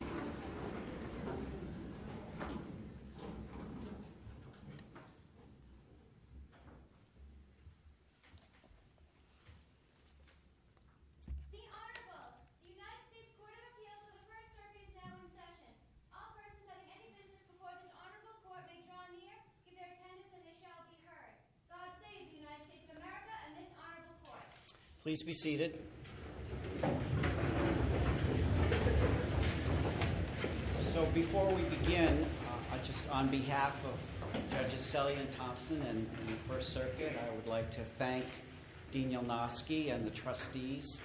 The Honorable, the United States Court of Appeals for the First Circuit is now in session. All persons having any business before this Honorable Court may draw near, give their attendance, and this shall be heard. God save the United States of America and this Honorable Court. Please be seated. So before we begin, just on behalf of Judges Selle and Thompson and the First Circuit, I would like to thank Dean Jelnowski and the trustees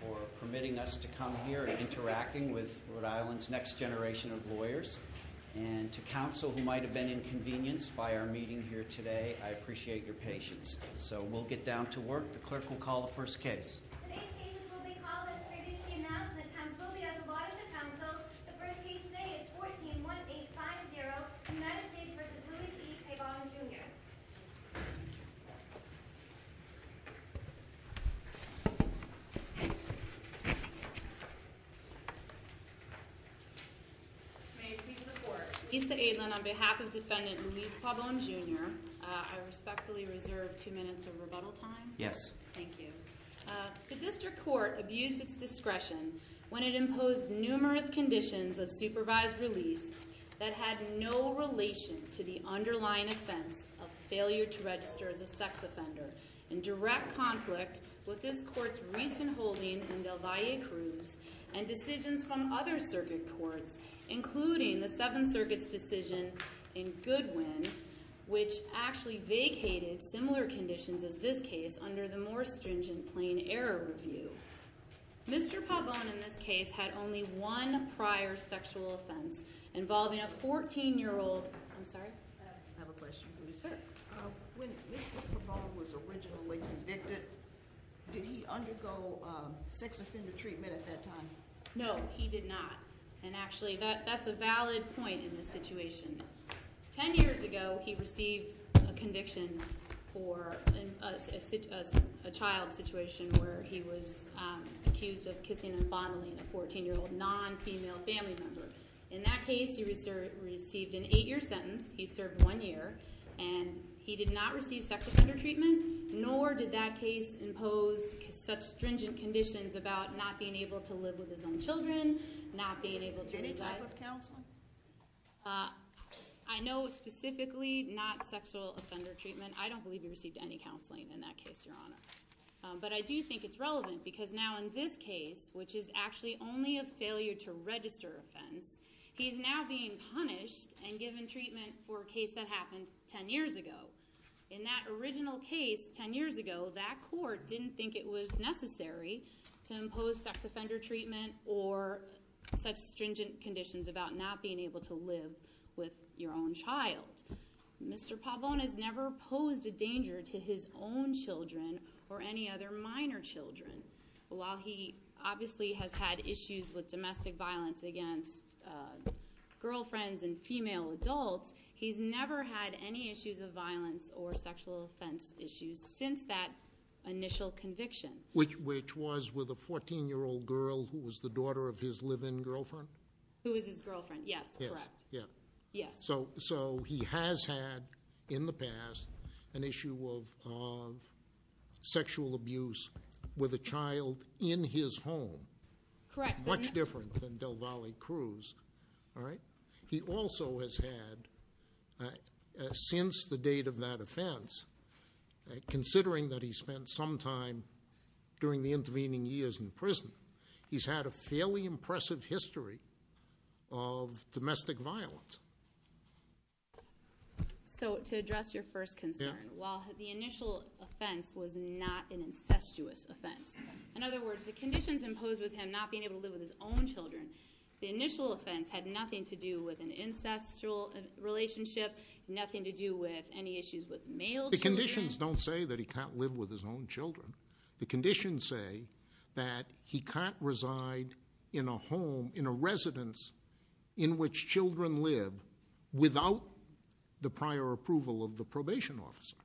for permitting us to come here and interacting with Rhode Island's next generation of lawyers. And to counsel who might have been inconvenienced by our meeting here today, I appreciate your patience. So we'll get down to work. The clerk will call the first case. Today's case will be called as previously announced and the times will be as allotted to counsel. The first case today is 14-1850, United States v. Louise E. Pabon, Jr. May it please the Court. Lisa Aitlin on behalf of Defendant Louise Pabon, Jr., I respectfully reserve two minutes of rebuttal time. Yes. Thank you. The district court abused its discretion when it imposed numerous conditions of supervised release that had no relation to the underlying offense of failure to register as a sex offender. In direct conflict with this court's recent holding in Del Valle Cruz and decisions from other circuit courts, including the Seventh Circuit's decision in Goodwin, which actually vacated similar conditions as this case under the more stringent plain error review. Mr. Pabon, in this case, had only one prior sexual offense involving a 14-year-old. I'm sorry? I have a question, please. Sure. When Mr. Pabon was originally convicted, did he undergo sex offender treatment at that time? No, he did not, and actually that's a valid point in this situation. Ten years ago, he received a conviction for a child situation where he was accused of kissing and fondling a 14-year-old non-female family member. In that case, he received an eight-year sentence. He served one year, and he did not receive sex offender treatment, nor did that case impose such stringent conditions about not being able to live with his own children, not being able to reside- Any type of counseling? I know specifically not sexual offender treatment. I don't believe he received any counseling in that case, Your Honor. But I do think it's relevant because now in this case, which is actually only a failure to register offense, he's now being punished and given treatment for a case that happened ten years ago. In that original case ten years ago, that court didn't think it was necessary to impose sex offender treatment or such stringent conditions about not being able to live with your own child. Mr. Pavone has never posed a danger to his own children or any other minor children. While he obviously has had issues with domestic violence against girlfriends and female adults, he's never had any issues of violence or sexual offense issues since that initial conviction. Which was with a 14-year-old girl who was the daughter of his live-in girlfriend? Who was his girlfriend, yes, correct. Yes. So he has had, in the past, an issue of sexual abuse with a child in his home. Correct. Much different than Del Valle Cruz, all right? He also has had, since the date of that offense, considering that he spent some time during the intervening years in prison, he's had a fairly impressive history of domestic violence. So to address your first concern, while the initial offense was not an incestuous offense, in other words, the conditions imposed with him not being able to live with his own children, the initial offense had nothing to do with an incestual relationship, nothing to do with any issues with male children. The conditions don't say that he can't live with his own children. The conditions say that he can't reside in a home, in a residence in which children live without the prior approval of the probation officer.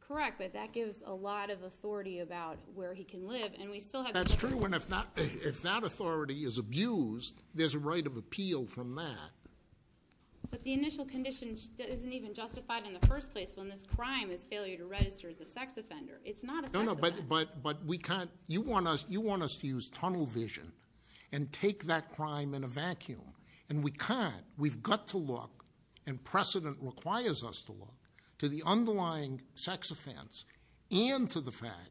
Correct, but that gives a lot of authority about where he can live, and we still have- That's true, and if that authority is abused, there's a right of appeal from that. But the initial condition isn't even justified in the first place when this crime is failure to register as a sex offender. It's not a sex offender. No, no, but you want us to use tunnel vision and take that crime in a vacuum, and we can't. We've got to look, and precedent requires us to look, to the underlying sex offense and to the fact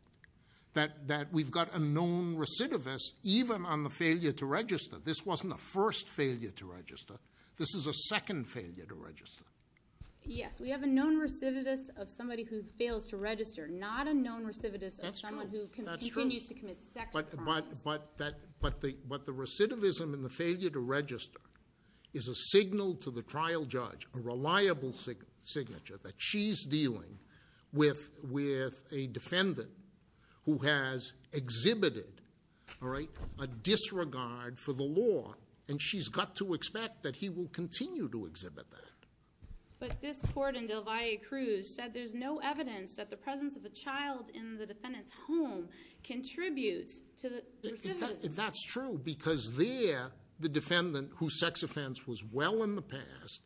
that we've got a known recidivist even on the failure to register. This wasn't a first failure to register. This is a second failure to register. Yes, we have a known recidivist of somebody who fails to register. Not a known recidivist of someone who continues to commit sex crimes. But the recidivism and the failure to register is a signal to the trial judge, a reliable signature that she's dealing with a defendant who has exhibited a disregard for the law, and she's got to expect that he will continue to exhibit that. But this court in Del Valle Cruz said there's no evidence that the presence of a child in the defendant's home contributes to the recidivism. That's true, because there, the defendant whose sex offense was well in the past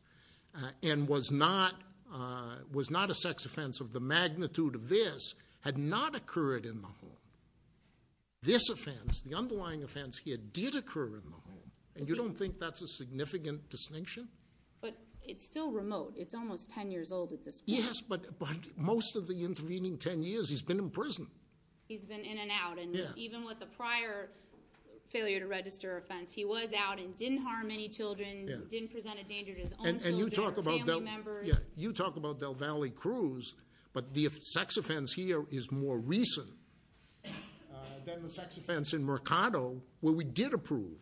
and was not a sex offense of the magnitude of this had not occurred in the home. This offense, the underlying offense here, did occur in the home, and you don't think that's a significant distinction? But it's still remote. It's almost ten years old at this point. Yes, but most of the intervening ten years, he's been in prison. He's been in and out, and even with the prior failure to register offense, he was out and didn't harm any children, didn't present a danger to his own children or family members. Yeah, you talk about Del Valle Cruz, but the sex offense here is more recent than the sex offense in Mercado, where we did approve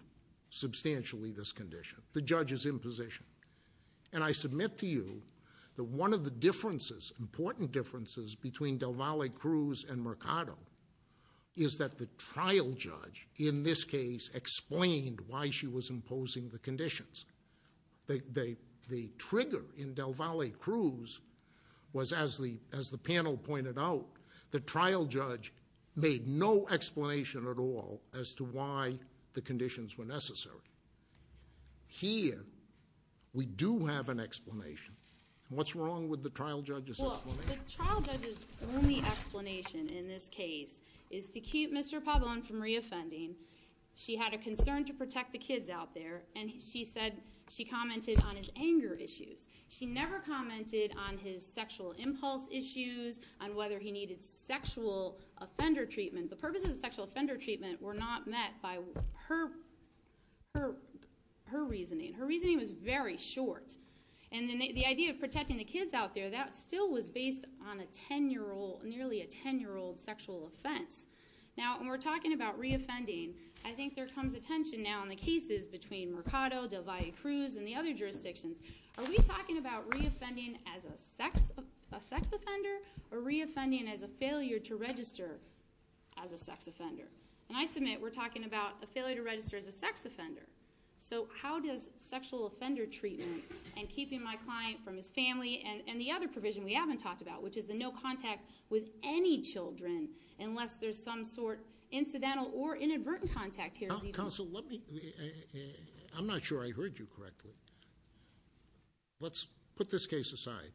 substantially this condition. The judge is in position. And I submit to you that one of the differences, important differences, between Del Valle Cruz and Mercado is that the trial judge in this case explained why she was imposing the conditions. The trigger in Del Valle Cruz was, as the panel pointed out, the trial judge made no explanation at all as to why the conditions were necessary. Here, we do have an explanation. What's wrong with the trial judge's explanation? Well, the trial judge's only explanation in this case is to keep Mr. Pabon from re-offending. She had a concern to protect the kids out there, and she said she commented on his anger issues. She never commented on his sexual impulse issues, on whether he needed sexual offender treatment. The purposes of sexual offender treatment were not met by her reasoning. Her reasoning was very short. And the idea of protecting the kids out there, that still was based on a 10-year-old, nearly a 10-year-old sexual offense. Now, when we're talking about re-offending, I think there comes attention now in the cases between Mercado, Del Valle Cruz, and the other jurisdictions. Are we talking about re-offending as a sex offender or re-offending as a failure to register as a sex offender? And I submit we're talking about a failure to register as a sex offender. So how does sexual offender treatment and keeping my client from his family and the other provision we haven't talked about, which is the no contact with any children unless there's some sort of incidental or inadvertent contact here. Counsel, let me, I'm not sure I heard you correctly. Let's put this case aside.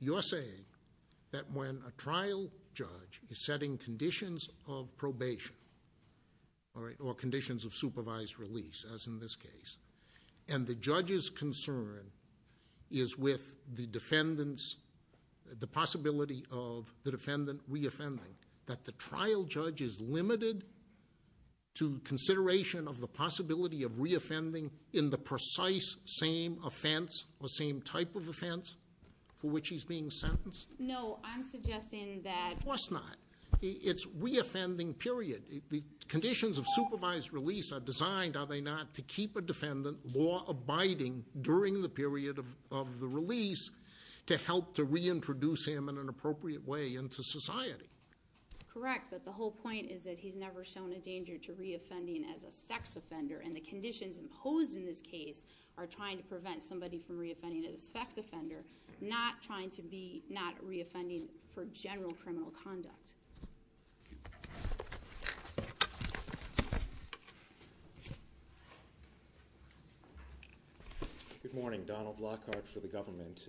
You're saying that when a trial judge is setting conditions of probation or conditions of supervised release, as in this case, and the judge's concern is with the possibility of the defendant re-offending. That the trial judge is limited to consideration of the possibility of re-offending in the precise same offense or same type of offense for which he's being sentenced? No, I'm suggesting that- Of course not. It's re-offending, period. The conditions of supervised release are designed, are they not, to keep a defendant law abiding during the period of the release to help to reintroduce him in an appropriate way into society? Correct, but the whole point is that he's never shown a danger to re-offending as a sex offender. And the conditions imposed in this case are trying to prevent somebody from re-offending as a sex offender, not trying to be not re-offending for general criminal conduct. Thank you. Good morning. Donald Lockhart for the government.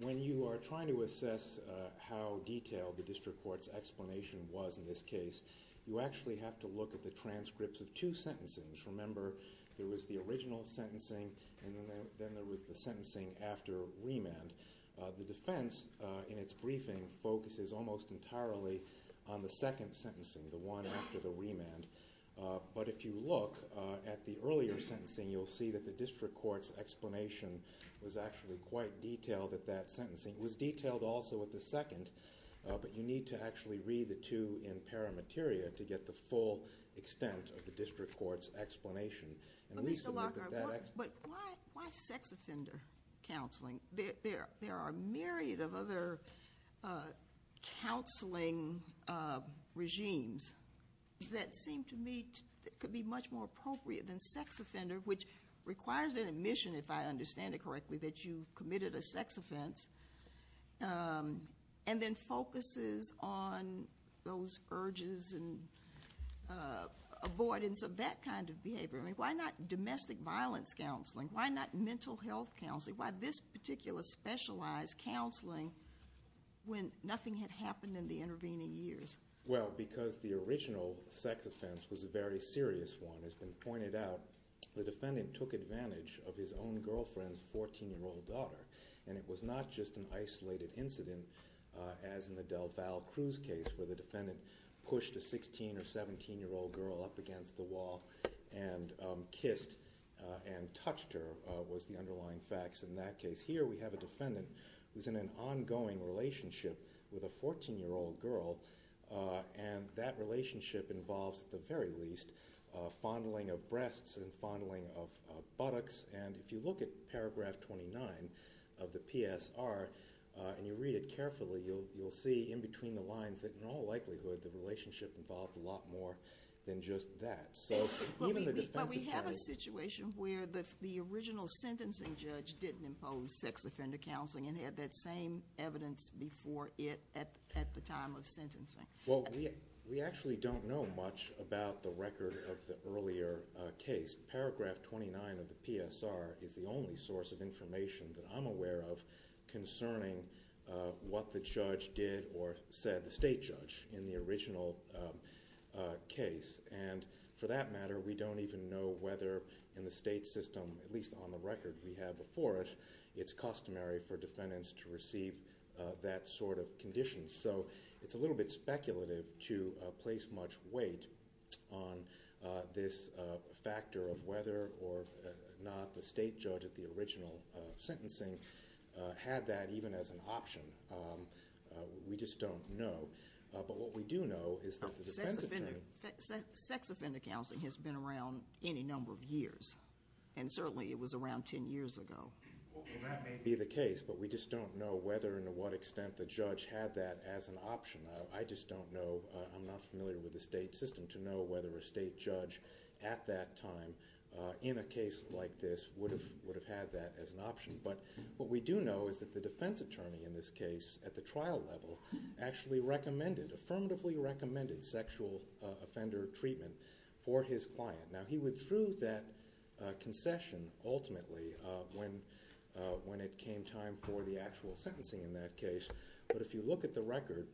When you are trying to assess how detailed the district court's explanation was in this case, you actually have to look at the transcripts of two sentencings. Remember, there was the original sentencing and then there was the sentencing after remand. The defense in its briefing focuses almost entirely on the second sentencing, the one after the remand. But if you look at the earlier sentencing, you'll see that the district court's explanation was actually quite detailed at that sentencing. It was detailed also at the second, but you need to actually read the two in paramateria to get the full extent of the district court's explanation. Mr. Lockhart, but why sex offender counseling? There are a myriad of other counseling regimes that seem to me could be much more appropriate than sex offender, which requires an admission, if I understand it correctly, that you've committed a sex offense, and then focuses on those urges and avoidance of that kind of behavior. I mean, why not domestic violence counseling? Why not mental health counseling? Why this particular specialized counseling when nothing had happened in the intervening years? Well, because the original sex offense was a very serious one. It's been pointed out the defendant took advantage of his own girlfriend's 14-year-old daughter, and it was not just an isolated incident, as in the DelVal Cruz case, where the defendant pushed a 16- or 17-year-old girl up against the wall and kissed and touched her, was the underlying facts in that case. Here we have a defendant who's in an ongoing relationship with a 14-year-old girl, and that relationship involves, at the very least, fondling of breasts and fondling of buttocks. And if you look at Paragraph 29 of the PSR and you read it carefully, you'll see in between the lines that in all likelihood the relationship involved a lot more than just that. But we have a situation where the original sentencing judge didn't impose sex offender counseling and had that same evidence before it at the time of sentencing. Well, we actually don't know much about the record of the earlier case. Paragraph 29 of the PSR is the only source of information that I'm aware of concerning what the judge did or said, the state judge, in the original case. And for that matter, we don't even know whether in the state system, at least on the record we have before it, it's customary for defendants to receive that sort of condition. So it's a little bit speculative to place much weight on this factor of whether or not the state judge at the original sentencing had that even as an option. We just don't know. But what we do know is that the defense attorney— Sex offender counseling has been around any number of years, and certainly it was around 10 years ago. Well, that may be the case, but we just don't know whether and to what extent the judge had that as an option. I just don't know. I'm not familiar with the state system to know whether a state judge at that time, in a case like this, would have had that as an option. But what we do know is that the defense attorney in this case, at the trial level, actually recommended, affirmatively recommended, sexual offender treatment for his client. Now, he withdrew that concession ultimately when it came time for the actual sentencing in that case. But if you look at the record,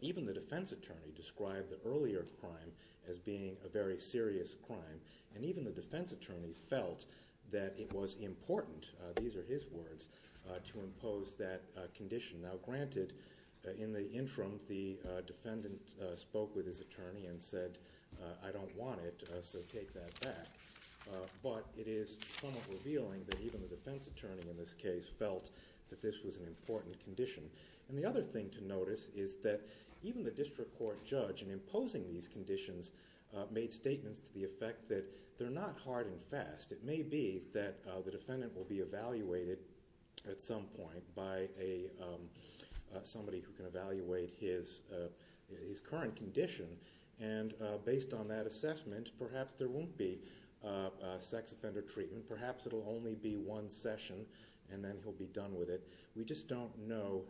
even the defense attorney described the earlier crime as being a very serious crime, and even the defense attorney felt that it was important, these are his words, to impose that condition. Now, granted, in the interim, the defendant spoke with his attorney and said, I don't want it, so take that back. But it is somewhat revealing that even the defense attorney in this case felt that this was an important condition. And the other thing to notice is that even the district court judge, in imposing these conditions, made statements to the effect that they're not hard and fast. It may be that the defendant will be evaluated at some point by somebody who can evaluate his current condition. And based on that assessment, perhaps there won't be sex offender treatment. Perhaps it will only be one session, and then he'll be done with it. We just don't know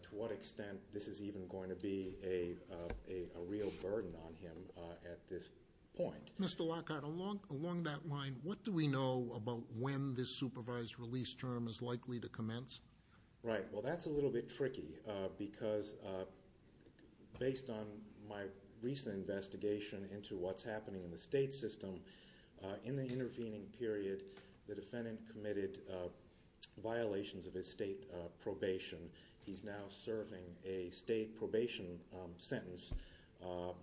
to what extent this is even going to be a real burden on him at this point. Mr. Lockhart, along that line, what do we know about when this supervised release term is likely to commence? Right. Well, that's a little bit tricky because based on my recent investigation into what's happening in the state system, in the intervening period, the defendant committed violations of his state probation. He's now serving a state probation sentence.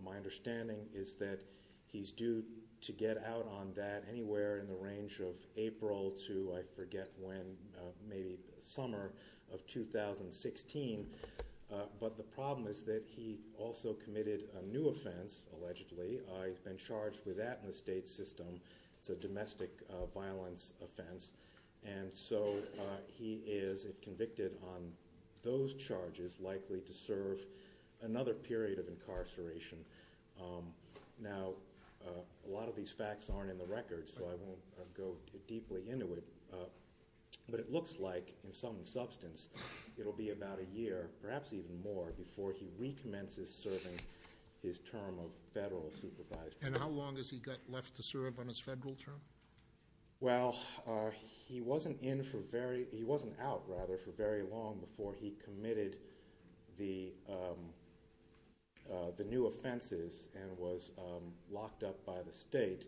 My understanding is that he's due to get out on that anywhere in the range of April to, I forget when, maybe summer of 2016. But the problem is that he also committed a new offense, allegedly. He's been charged with that in the state system. It's a domestic violence offense. And so he is, if convicted on those charges, likely to serve another period of incarceration. Now, a lot of these facts aren't in the record, so I won't go deeply into it. But it looks like, in some substance, it will be about a year, perhaps even more, before he recommences serving his term of federal supervisory. And how long has he got left to serve on his federal term? Well, he wasn't out for very long before he committed the new offenses and was locked up by the state.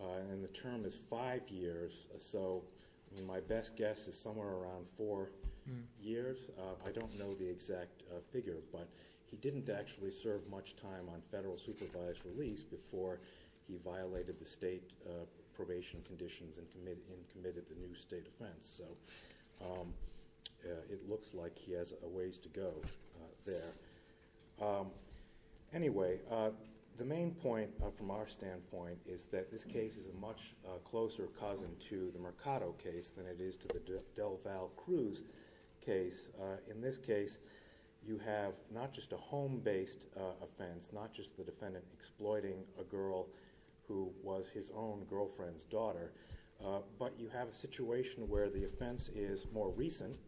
And the term is five years, so my best guess is somewhere around four years. I don't know the exact figure, but he didn't actually serve much time on federal supervised release before he violated the state probation conditions and committed the new state offense. So it looks like he has a ways to go there. Anyway, the main point from our standpoint is that this case is a much closer cousin to the Mercado case than it is to the DelVal-Cruz case. In this case, you have not just a home-based offense, not just the defendant exploiting a girl who was his own girlfriend's daughter, but you have a situation where the offense is more recent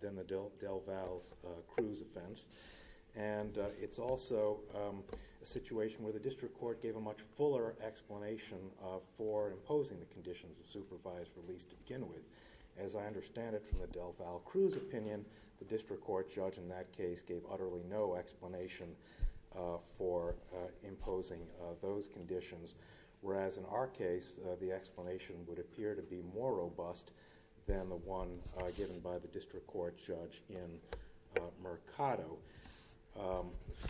than the DelVal-Cruz offense. And it's also a situation where the district court gave a much fuller explanation for imposing the conditions of supervised release to begin with. As I understand it from the DelVal-Cruz opinion, the district court judge in that case gave utterly no explanation for imposing those conditions, whereas in our case the explanation would appear to be more robust than the one given by the district court judge in Mercado.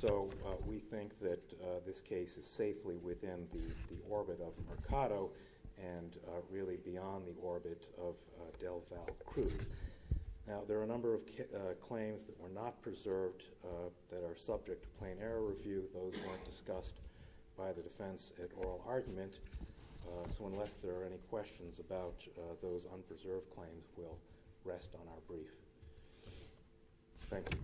So we think that this case is safely within the orbit of Mercado and really beyond the orbit of DelVal-Cruz. Now, there are a number of claims that were not preserved that are subject to plain error review. Those weren't discussed by the defense at oral argument. So unless there are any questions about those unpreserved claims, we'll rest on our brief. Thank you.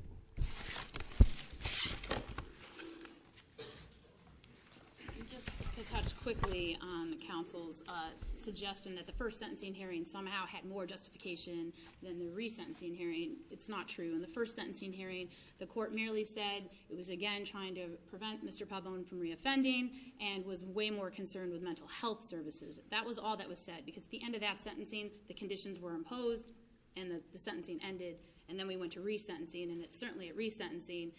Just to touch quickly on the counsel's suggestion that the first sentencing hearing somehow had more justification than the resentencing hearing. It's not true. In the first sentencing hearing, the court merely said it was, again, trying to prevent Mr. Pabon from reoffending and was way more concerned with mental health services. In the second sentencing, the conditions were imposed and the sentencing ended, and then we went to resentencing. And certainly at resentencing,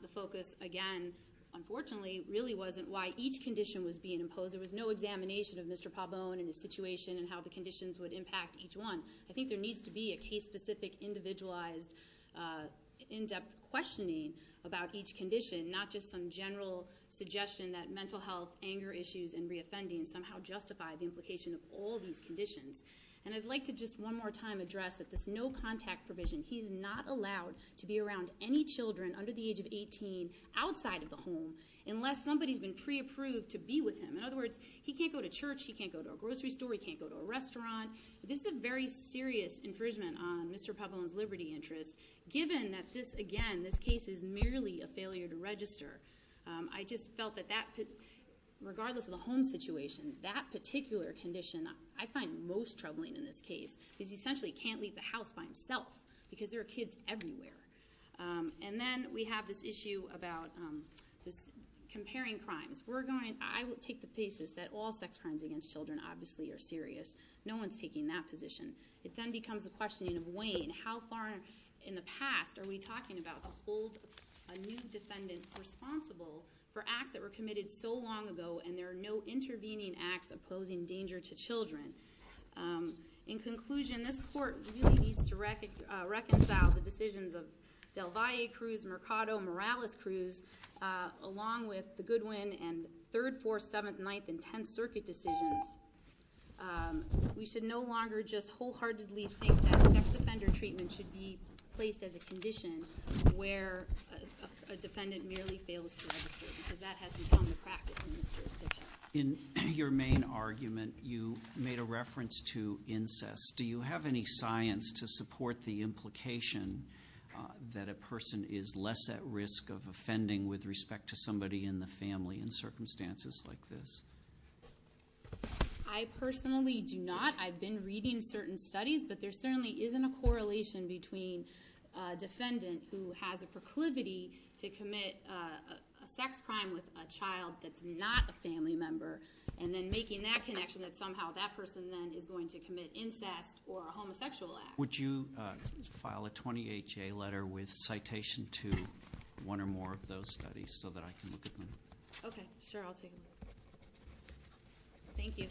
the focus, again, unfortunately, really wasn't why each condition was being imposed. There was no examination of Mr. Pabon and his situation and how the conditions would impact each one. I think there needs to be a case-specific, individualized, in-depth questioning about each condition, not just some general suggestion that mental health, anger issues, and reoffending somehow justify the implication of all these conditions. And I'd like to just one more time address that this no-contact provision, he's not allowed to be around any children under the age of 18 outside of the home unless somebody's been pre-approved to be with him. In other words, he can't go to church, he can't go to a grocery store, he can't go to a restaurant. This is a very serious infringement on Mr. Pabon's liberty interest, given that this, again, this case is merely a failure to register. I just felt that regardless of the home situation, that particular condition I find most troubling in this case is essentially he can't leave the house by himself because there are kids everywhere. And then we have this issue about comparing crimes. I will take the basis that all sex crimes against children, obviously, are serious. No one's taking that position. It then becomes a question of weighing how far in the past are we talking about holding a new defendant responsible for acts that were committed so long ago and there are no intervening acts opposing danger to children. In conclusion, this court really needs to reconcile the decisions of Del Valle Cruz, Mercado, Morales Cruz, along with the Goodwin and 3rd, 4th, 7th, 9th, and 10th Circuit decisions. We should no longer just wholeheartedly think that sex offender treatment should be placed as a condition where a defendant merely fails to register because that hasn't become a practice in this jurisdiction. In your main argument, you made a reference to incest. Do you have any science to support the implication that a person is less at risk of offending with respect to somebody in the family in circumstances like this? I personally do not. I've been reading certain studies, but there certainly isn't a correlation between a defendant who has a proclivity to commit a sex crime with a child that's not a family member and then making that connection that somehow that person then is going to commit incest or a homosexual act. Would you file a 28-J letter with citation to one or more of those studies so that I can look at them? Okay, sure. I'll take a look. Thank you.